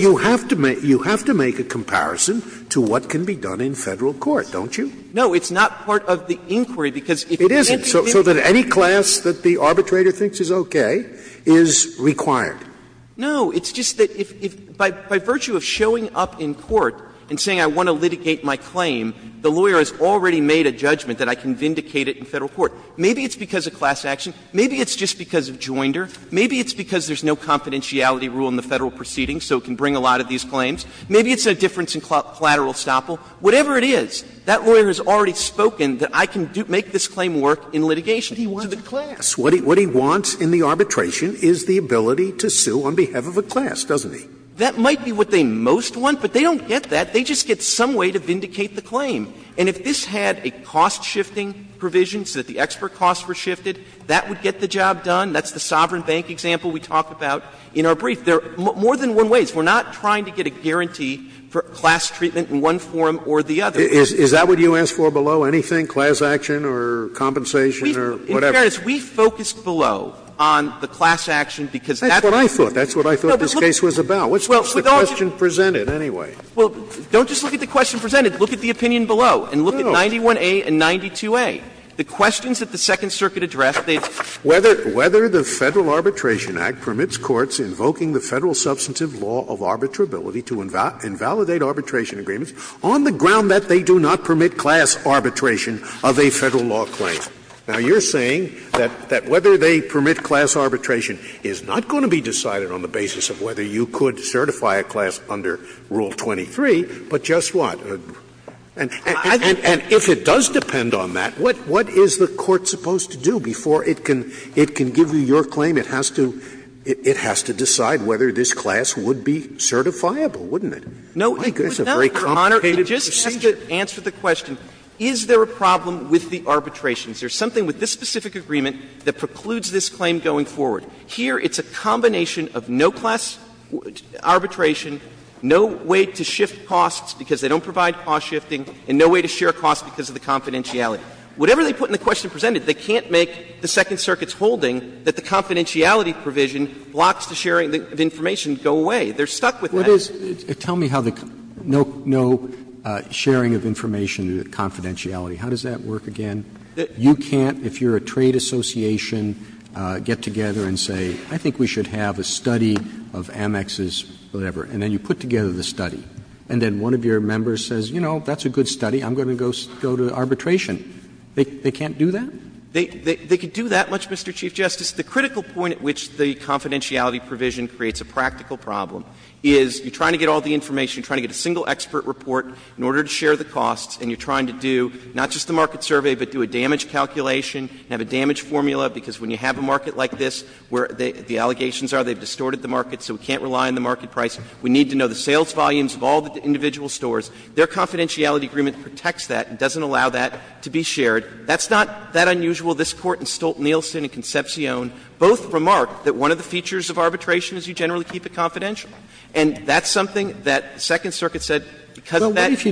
you have to make a comparison to what can be done in Federal court, don't you? Clements, No. It's not part of the inquiry, because if you're presenting the inquiry. Scalia. It isn't? So that any class that the arbitrator thinks is okay is required? Clements, No. It's just that if by virtue of showing up in court and saying I want to litigate my claim, the lawyer has already made a judgment that I can vindicate it in Federal court. Maybe it's because of class action. Maybe it's just because of joinder. Maybe it's because there's no confidentiality rule in the Federal proceedings so it can bring a lot of these claims. Maybe it's a difference in collateral estoppel. Whatever it is, that lawyer has already spoken that I can make this claim work in litigation. Scalia. But he wants the class. What he wants in the arbitration is the ability to sue on behalf of a class, doesn't he? Clements, That might be what they most want, but they don't get that. They just get some way to vindicate the claim. And if this had a cost-shifting provision so that the extra costs were shifted, that would get the job done. That's the Sovereign Bank example we talk about in our brief. There are more than one ways. We're not trying to get a guarantee for class treatment in one form or the other. Scalia. Is that what you ask for below anything, class action or compensation or whatever? Clements, In all fairness, we focused below on the class action, because that's what I thought. That's what I thought this case was about. What's the question presented, anyway? Clements, Well, don't just look at the question presented. Look at the opinion below and look at 91A and 92A. The questions that the Second Circuit addressed, they've Scalia. Whether the Federal Arbitration Act permits courts invoking the Federal substantive law of arbitrability to invalidate arbitration agreements on the ground that they do not permit class arbitration of a Federal law claim. Now, you're saying that whether they permit class arbitration is not going to be decided on the basis of whether you could certify a class under Rule 23, but just what? And if it does depend on that, what is the Court supposed to do before it can give you your claim? It has to decide whether this class would be certifiable, wouldn't it? Clements, No, it would not, Your Honor. Scalia. It's a very complicated procedure. Clements, It just has to answer the question, is there a problem with the arbitration provisions? There's something with this specific agreement that precludes this claim going forward. Here, it's a combination of no class arbitration, no way to shift costs because they don't provide cost shifting, and no way to share costs because of the confidentiality. Whatever they put in the question presented, they can't make the Second Circuit's holding that the confidentiality provision blocks the sharing of information to go away. They're stuck with that. Roberts. Tell me how the no sharing of information confidentiality, how does that work again? You can't, if you're a trade association, get together and say, I think we should have a study of Amex's whatever, and then you put together the study, and then one of your members says, you know, that's a good study, I'm going to go to arbitration. They can't do that? Clements, They could do that much, Mr. Chief Justice. The critical point at which the confidentiality provision creates a practical problem is you're trying to get all the information, you're trying to get a single expert report in order to share the costs, and you're trying to do not just the market survey, but do a damage calculation, have a damage formula, because when you have a market like this, where the allegations are, they've distorted the market, so we can't rely on the market price. We need to know the sales volumes of all the individual stores. Their confidentiality agreement protects that and doesn't allow that to be shared. That's not that unusual. This Court and Stolt-Nielsen and Concepcion both remarked that one of the features of arbitration is you generally keep it confidential. And that's something that the Second Circuit said, because of that. Roberts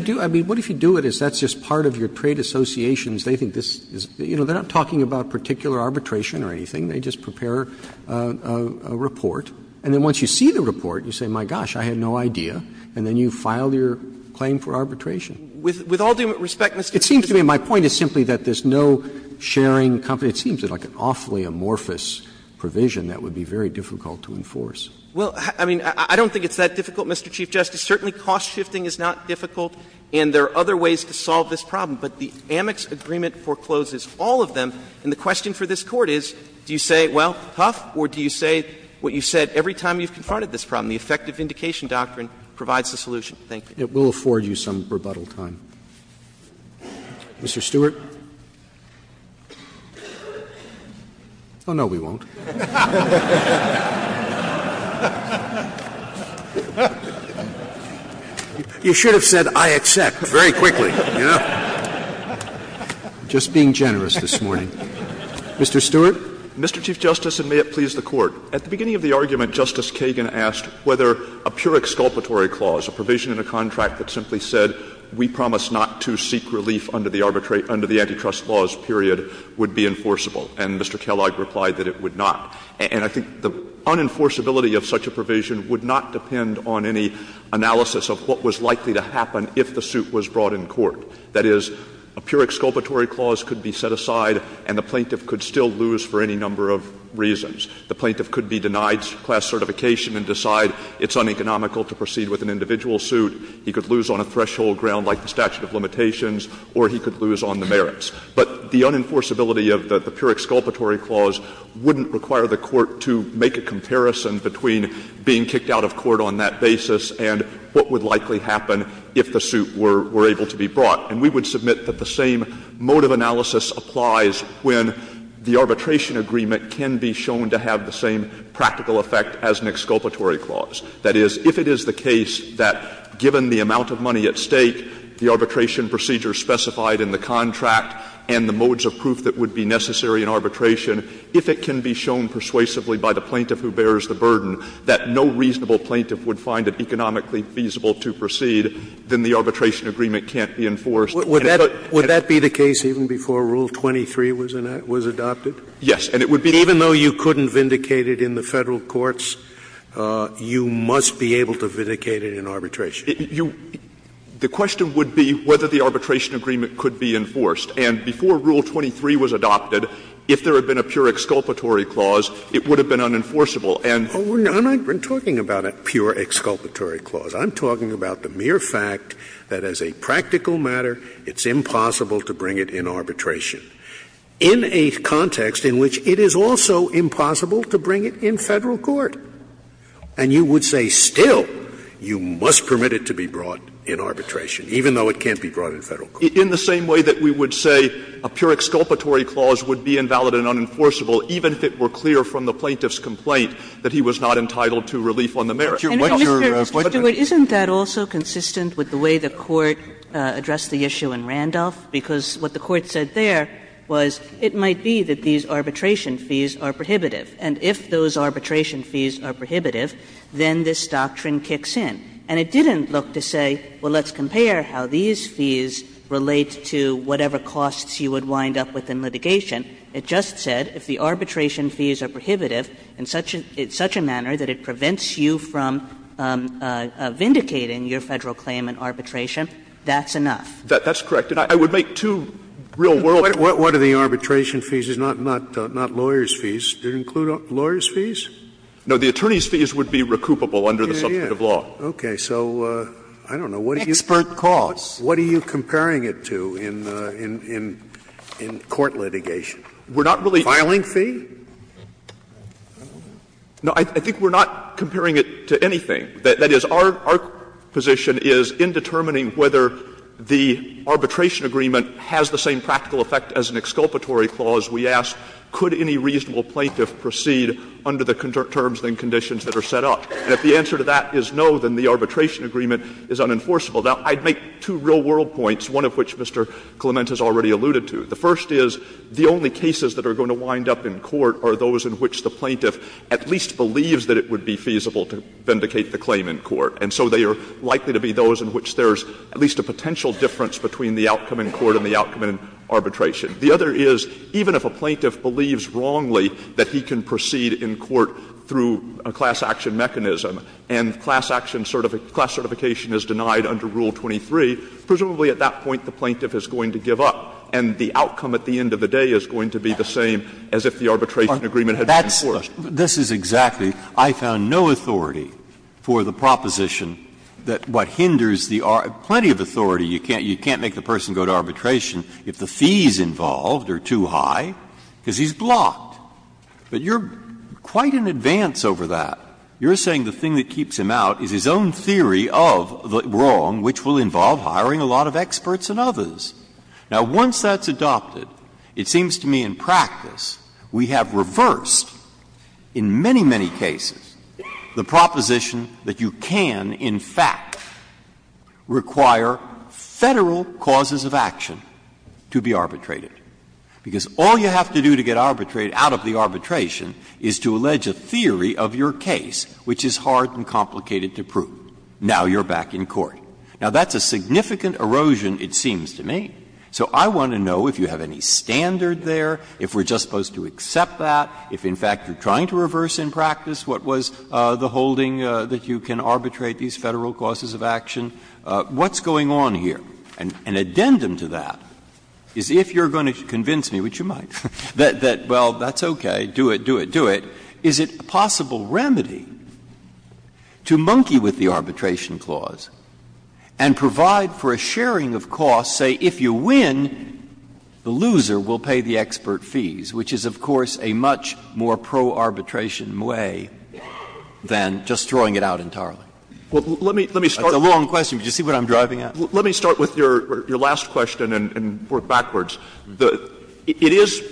What if you do it, is that's just part of your trade associations. They think this is — you know, they're not talking about particular arbitration or anything. They just prepare a report, and then once you see the report, you say, my gosh, I had no idea, and then you file your claim for arbitration. Clements, With all due respect, Mr. Chief Justice. Roberts It seems to me my point is simply that there's no sharing confidentiality. It seems like an awfully amorphous provision that would be very difficult to enforce. Clements, Well, I mean, I don't think it's that difficult, Mr. Chief Justice. Certainly, cost shifting is not difficult, and there are other ways to solve this problem. But the Amex agreement forecloses all of them, and the question for this Court is, do you say, well, huff, or do you say what you said every time you've confronted this problem? The effective indication doctrine provides the solution. Thank you. Roberts It will afford you some rebuttal time. Mr. Stewart. Oh, no, we won't. You should have said, I accept, very quickly, you know. Just being generous this morning. Mr. Stewart. Stewart Mr. Chief Justice, and may it please the Court. At the beginning of the argument, Justice Kagan asked whether a pure exculpatory clause, a provision in a contract that simply said, we promise not to seek relief under the arbitrate under the antitrust laws, period, would be enforceable. And Mr. Kellogg replied that it would not. And I think the unenforceability of such a provision would not depend on any analysis of what was likely to happen if the suit was brought in court. That is, a pure exculpatory clause could be set aside and the plaintiff could still lose for any number of reasons. The plaintiff could be denied class certification and decide it's uneconomical to proceed with an individual suit. He could lose on a threshold ground like the statute of limitations, or he could lose on the merits. But the unenforceability of the pure exculpatory clause wouldn't require the Court to make a comparison between being kicked out of court on that basis and what would likely happen if the suit were able to be brought. And we would submit that the same mode of analysis applies when the arbitration agreement can be shown to have the same practical effect as an exculpatory clause. That is, if it is the case that, given the amount of money at stake, the arbitration procedures specified in the contract, and the modes of proof that would be necessary in arbitration, if it can be shown persuasively by the plaintiff who bears the burden that no reasonable plaintiff would find it economically feasible to proceed, then the arbitration agreement can't be enforced. And if it's not, then it can't be enforced. Scalia, would that be the case even before Rule 23 was adopted? Yes, and it would be the case. Even though you couldn't vindicate it in the Federal courts, you must be able to vindicate it in arbitration. You – the question would be whether the arbitration agreement could be enforced. And before Rule 23 was adopted, if there had been a pure exculpatory clause, it would have been unenforceable. And we're not even talking about a pure exculpatory clause. I'm talking about the mere fact that as a practical matter, it's impossible to bring it in arbitration in a context in which it is also impossible to bring it in Federal court. And you would say still, you must permit it to be brought in arbitration, even though it can't be brought in Federal court. In the same way that we would say a pure exculpatory clause would be invalid and unenforceable, even if it were clear from the plaintiff's complaint that he was not entitled to relief on the merits. Kagan, what's your question? Kagan, isn't that also consistent with the way the Court addressed the issue in Randolph? Because what the Court said there was it might be that these arbitration fees are prohibitive. And if those arbitration fees are prohibitive, then this doctrine kicks in. And it didn't look to say, well, let's compare how these fees relate to whatever costs you would wind up with in litigation. It just said if the arbitration fees are prohibitive in such a manner that it prevents you from vindicating your Federal claim in arbitration, that's enough. That's correct. And I would make two real-world cases. Scalia, what are the arbitration fees, not lawyers' fees? Do they include lawyers' fees? No, the attorneys' fees would be recoupable under the subject of law. Scalia, so I don't know, what are you comparing it to in court litigation? We're not really. Filing fee? No, I think we're not comparing it to anything. That is, our position is in determining whether the arbitration agreement has the same practical effect as an exculpatory clause, we ask could any reasonable plaintiff proceed under the terms and conditions that are set up. And if the answer to that is no, then the arbitration agreement is unenforceable. Now, I'd make two real-world points, one of which Mr. Clement has already alluded to. The first is the only cases that are going to wind up in court are those in which the plaintiff at least believes that it would be feasible to vindicate the claim in court. And so they are likely to be those in which there's at least a potential difference between the outcome in court and the outcome in arbitration. The other is, even if a plaintiff believes wrongly that he can proceed in court through a class action mechanism and class action certification is denied under Rule 23, presumably at that point the plaintiff is going to give up, and the outcome at the end of the day is going to be the same as if the arbitration agreement had been enforced. This is exactly. I found no authority for the proposition that what hinders the arbitration There's plenty of authority. You can't make the person go to arbitration if the fees involved are too high, because he's blocked. But you're quite in advance over that. You're saying the thing that keeps him out is his own theory of the wrong, which will involve hiring a lot of experts and others. Now, once that's adopted, it seems to me in practice we have reversed in many, many cases the proposition that you can in fact require Federal causes of action to be arbitrated. Because all you have to do to get arbitrated out of the arbitration is to allege a theory of your case which is hard and complicated to prove. Now you're back in court. Now, that's a significant erosion, it seems to me. So I want to know if you have any standard there, if we're just supposed to accept that, if in fact you're trying to reverse in practice what was the holding that you can arbitrate these Federal causes of action. What's going on here? An addendum to that is if you're going to convince me, which you might, that well, that's okay, do it, do it, do it, is it a possible remedy to monkey with the arbitration clause and provide for a sharing of costs, say, if you win, the loser will pay the cost of the arbitration, which is a much more pro-arbitration way than just throwing it out entirely. That's a long question. Did you see what I'm driving at? Let me start with your last question and work backwards. It is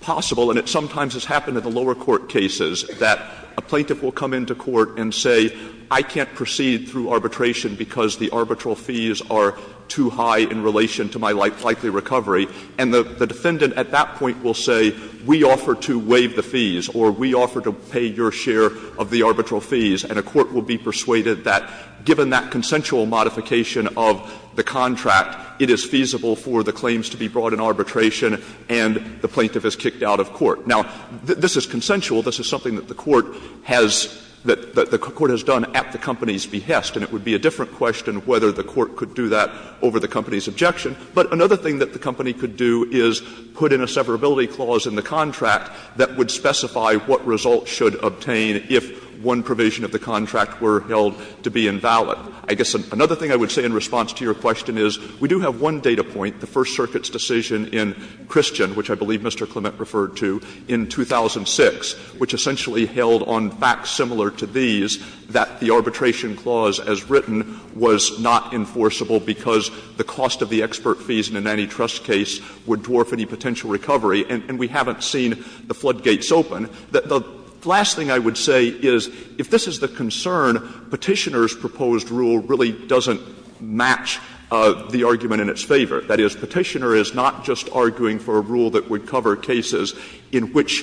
possible, and it sometimes has happened in the lower court cases, that a plaintiff will come into court and say, I can't proceed through arbitration because the arbitral fees are too high in relation to my likely recovery, and the defendant at that point will say, we offer to waive the fees, or we offer to pay your share of the arbitral fees, and a court will be persuaded that given that consensual modification of the contract, it is feasible for the claims to be brought in arbitration, and the plaintiff is kicked out of court. Now, this is consensual. This is something that the court has done at the company's behest, and it would be a different question whether the court could do that over the company's objection. But another thing that the company could do is put in a severability clause in the contract that would specify what results should obtain if one provision of the contract were held to be invalid. I guess another thing I would say in response to your question is, we do have one data point, the First Circuit's decision in Christian, which I believe Mr. Clement referred to, in 2006, which essentially held on facts similar to these that the arbitration clause as written was not enforceable because the cost of the expiration of the arbitration would be the same as the cost of the arbitration. So the question is, if the arbitration clause is not enforceable, then why would the expert fees in an antitrust case would dwarf any potential recovery, and we haven't seen the floodgates open? The last thing I would say is, if this is the concern, Petitioner's proposed rule really doesn't match the argument in its favor. That is, Petitioner is not just arguing for a rule that would cover cases in which the claimant has a $500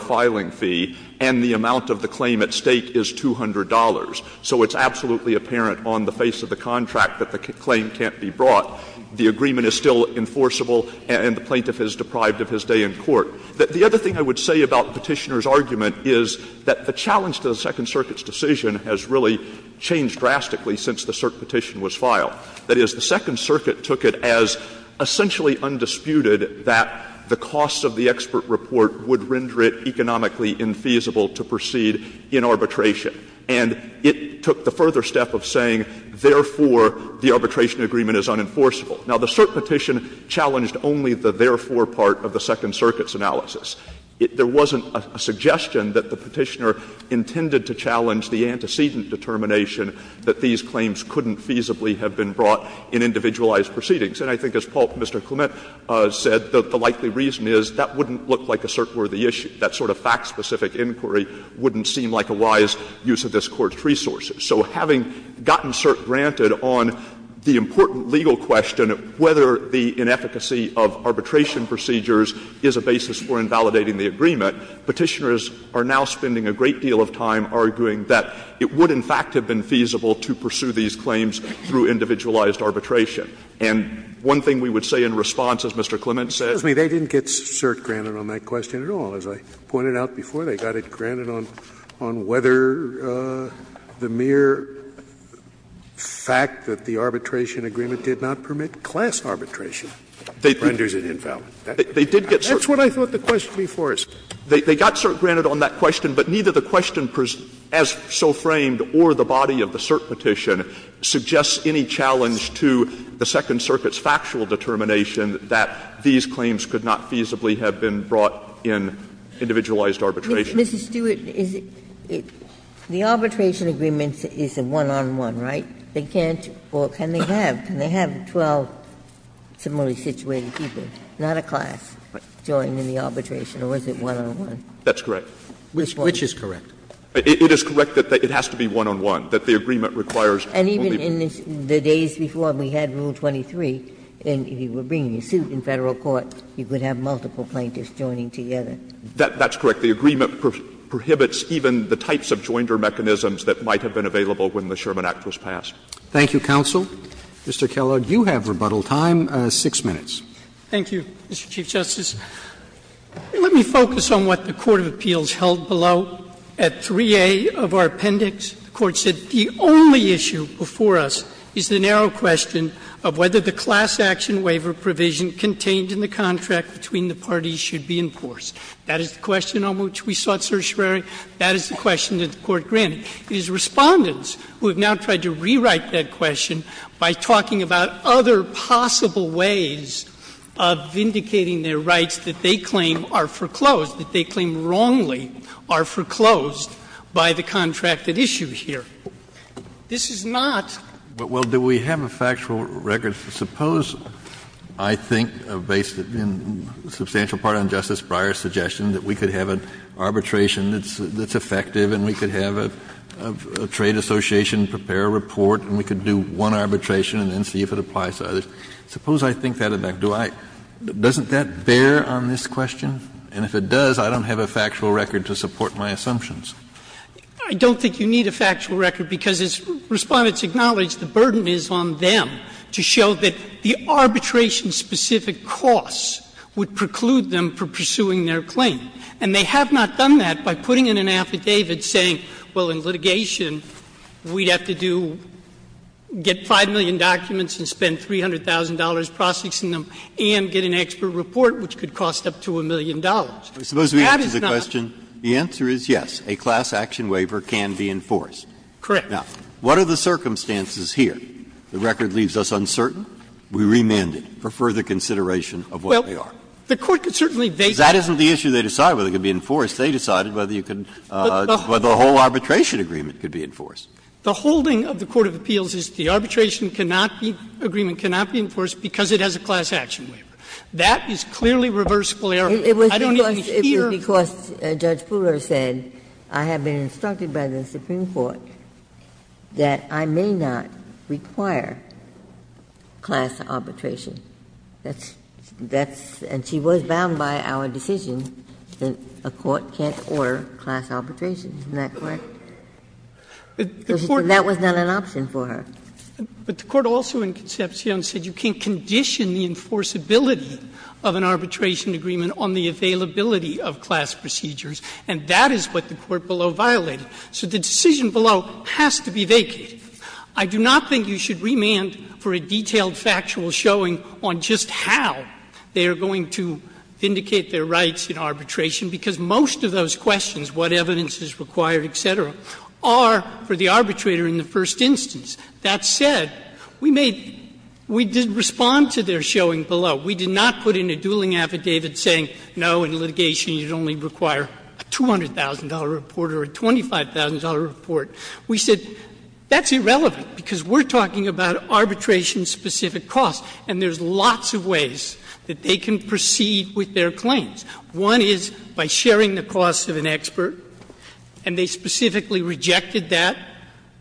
filing fee and the amount of the claim at stake is $200. So it's absolutely apparent on the face of the contract that the claim can't be brought. The agreement is still enforceable, and the plaintiff is deprived of his day in court. The other thing I would say about Petitioner's argument is that the challenge to the Second Circuit's decision has really changed drastically since the CERC petition was filed. That is, the Second Circuit took it as essentially undisputed that the cost of the expert report would render it economically infeasible to proceed in arbitration. And it took the further step of saying, therefore, the arbitration agreement is unenforceable. Now, the CERC petition challenged only the therefore part of the Second Circuit's analysis. There wasn't a suggestion that the Petitioner intended to challenge the antecedent determination that these claims couldn't feasibly have been brought in individualized proceedings. And I think as Mr. Clement said, the likely reason is that wouldn't look like a CERC-worthy issue. That sort of fact-specific inquiry wouldn't seem like a wise use of this Court's resources. So having gotten CERC granted on the important legal question of whether the inefficacy of arbitration procedures is a basis for invalidating the agreement, Petitioner is now spending a great deal of time arguing that it would in fact have been feasible to pursue these claims through individualized arbitration. And one thing we would say in response, as Mr. Clement said. Scalia, they didn't get CERC granted on that question at all. As I pointed out before, they got it granted on whether the mere fact that the arbitration agreement did not permit class arbitration renders it invalid. They did get CERC granted. Scalia, that's what I thought the question before us did. They got CERC granted on that question, but neither the question as so framed or the challenge to the Second Circuit's factual determination that these claims could not feasibly have been brought in individualized arbitration. Ms. Stewart, is it the arbitration agreement is a one-on-one, right? They can't or can they have? Can they have 12 similarly situated people, not a class, join in the arbitration or is it one-on-one? That's correct. Which is correct? It is correct that it has to be one-on-one, that the agreement requires only one. And even in the days before we had Rule 23, and if you were bringing a suit in Federal court, you could have multiple plaintiffs joining together. That's correct. The agreement prohibits even the types of jointer mechanisms that might have been available when the Sherman Act was passed. Thank you, counsel. Mr. Kellogg, you have rebuttal time, 6 minutes. Thank you, Mr. Chief Justice. Let me focus on what the court of appeals held below at 3A of our appendix. The court said the only issue before us is the narrow question of whether the class action waiver provision contained in the contract between the parties should be enforced. That is the question on which we sought certiorari. That is the question that the court granted. It is Respondents who have now tried to rewrite that question by talking about other possible ways of vindicating their rights that they claim are foreclosed, that they And that's the issue here. This is not. Kennedy, but well, do we have a factual record? Suppose I think, based in substantial part on Justice Breyer's suggestion, that we could have an arbitration that's effective and we could have a trade association prepare a report and we could do one arbitration and then see if it applies to others. I don't think you need a factual record, because as Respondents acknowledged, the burden is on them to show that the arbitration-specific costs would preclude them from pursuing their claim. And they have not done that by putting in an affidavit saying, well, in litigation, we'd have to do get 5 million documents and spend $300,000 processing them and get an expert report, which could cost up to a million dollars. That is not. Breyer's question, the answer is yes, a class action waiver can be enforced. Correct. Now, what are the circumstances here? The record leaves us uncertain. We remand it for further consideration of what they are. Well, the Court could certainly base that on. That isn't the issue. They decide whether it can be enforced. They decided whether you could, whether the whole arbitration agreement could be enforced. The holding of the court of appeals is the arbitration cannot be, agreement cannot be enforced because it has a class action waiver. That is clearly reversible error. I don't even hear. It was because Judge Fuller said, I have been instructed by the Supreme Court that I may not require class arbitration. That's that's, and she was bound by our decision that a court can't order class arbitration, isn't that correct? Because that was not an option for her. But the Court also in Concepcion said you can't condition the enforceability of an arbitration agreement on the availability of class procedures, and that is what the court below violated. So the decision below has to be vacated. I do not think you should remand for a detailed factual showing on just how they are going to vindicate their rights in arbitration, because most of those questions, what evidence is required, et cetera, are for the arbitrator in the first instance. That said, we may, we did respond to their showing below. We did not put in a dueling affidavit saying, no, in litigation you would only require a $200,000 report or a $25,000 report. We said, that's irrelevant, because we're talking about arbitration-specific costs, and there's lots of ways that they can proceed with their claims. One is by sharing the costs of an expert, and they specifically rejected that.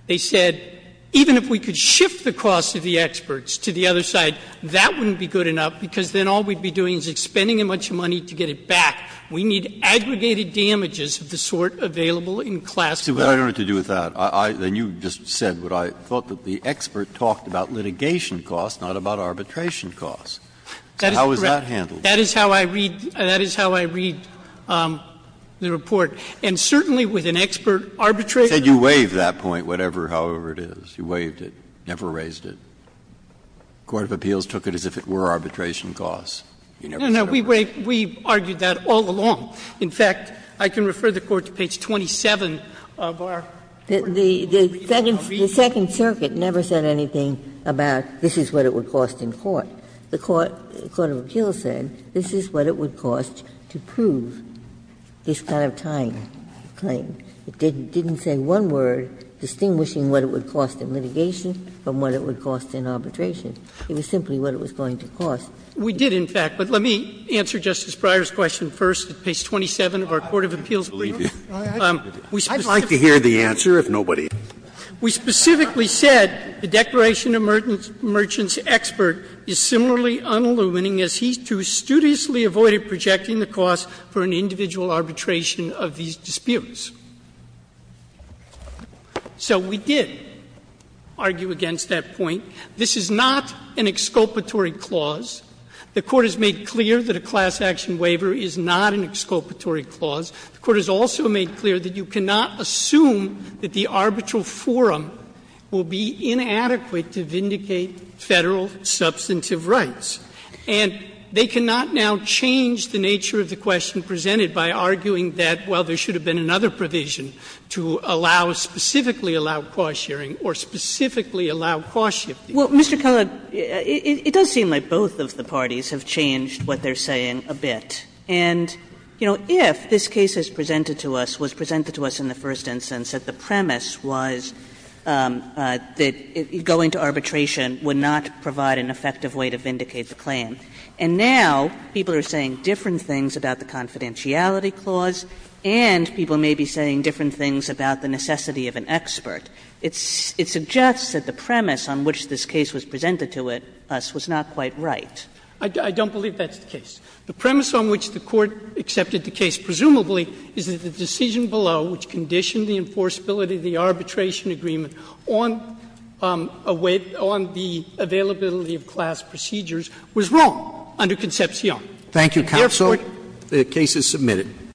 They said, even if we could shift the costs of the experts to the other side, that wouldn't be good enough, because then all we'd be doing is expending a bunch of money to get it back. We need aggregated damages of the sort available in class to it. Breyer. But I don't know what to do with that. I, then you just said what I thought, that the expert talked about litigation costs, not about arbitration costs. How is that handled? That is correct. That is how I read, that is how I read the report. And certainly with an expert arbitrator. You said you waived that point, whatever, however it is. You waived it, never raised it. Court of Appeals took it as if it were arbitration costs. You never said that. No, no. We waived. We argued that all along. In fact, I can refer the Court to page 27 of our report. The Second Circuit never said anything about this is what it would cost in court. The Court of Appeals said this is what it would cost to prove this kind of tying claim. It didn't say one word distinguishing what it would cost in litigation from what it would cost in arbitration. It was simply what it was going to cost. We did, in fact. But let me answer Justice Breyer's question first, page 27 of our Court of Appeals report. Scalia. I'd like to hear the answer, if nobody else. We specifically said the Declaration of Merchants expert is similarly unillumining as he, too, studiously avoided projecting the cost for an individual arbitration of these disputes. So we did argue against that point. This is not an exculpatory clause. The Court has made clear that a class action waiver is not an exculpatory clause. The Court has also made clear that you cannot assume that the arbitral forum will be inadequate to vindicate Federal substantive rights. And they cannot now change the nature of the question presented by arguing that, well, there should have been another provision to allow, specifically allow, cost sharing, or specifically allow cost shifting. Kagan. Well, Mr. Kellogg, it does seem like both of the parties have changed what they're saying a bit. And, you know, if this case is presented to us, was presented to us in the first instance, that the premise was that going to arbitration would not provide an effective way to vindicate the claim, and now people are saying different things about the necessity of an expert, it suggests that the premise on which this case was presented to us was not quite right. I don't believe that's the case. The premise on which the Court accepted the case, presumably, is that the decision below, which conditioned the enforceability of the arbitration agreement on the availability of class procedures, was wrong under Concepcion. Thank you, counsel. The case is submitted.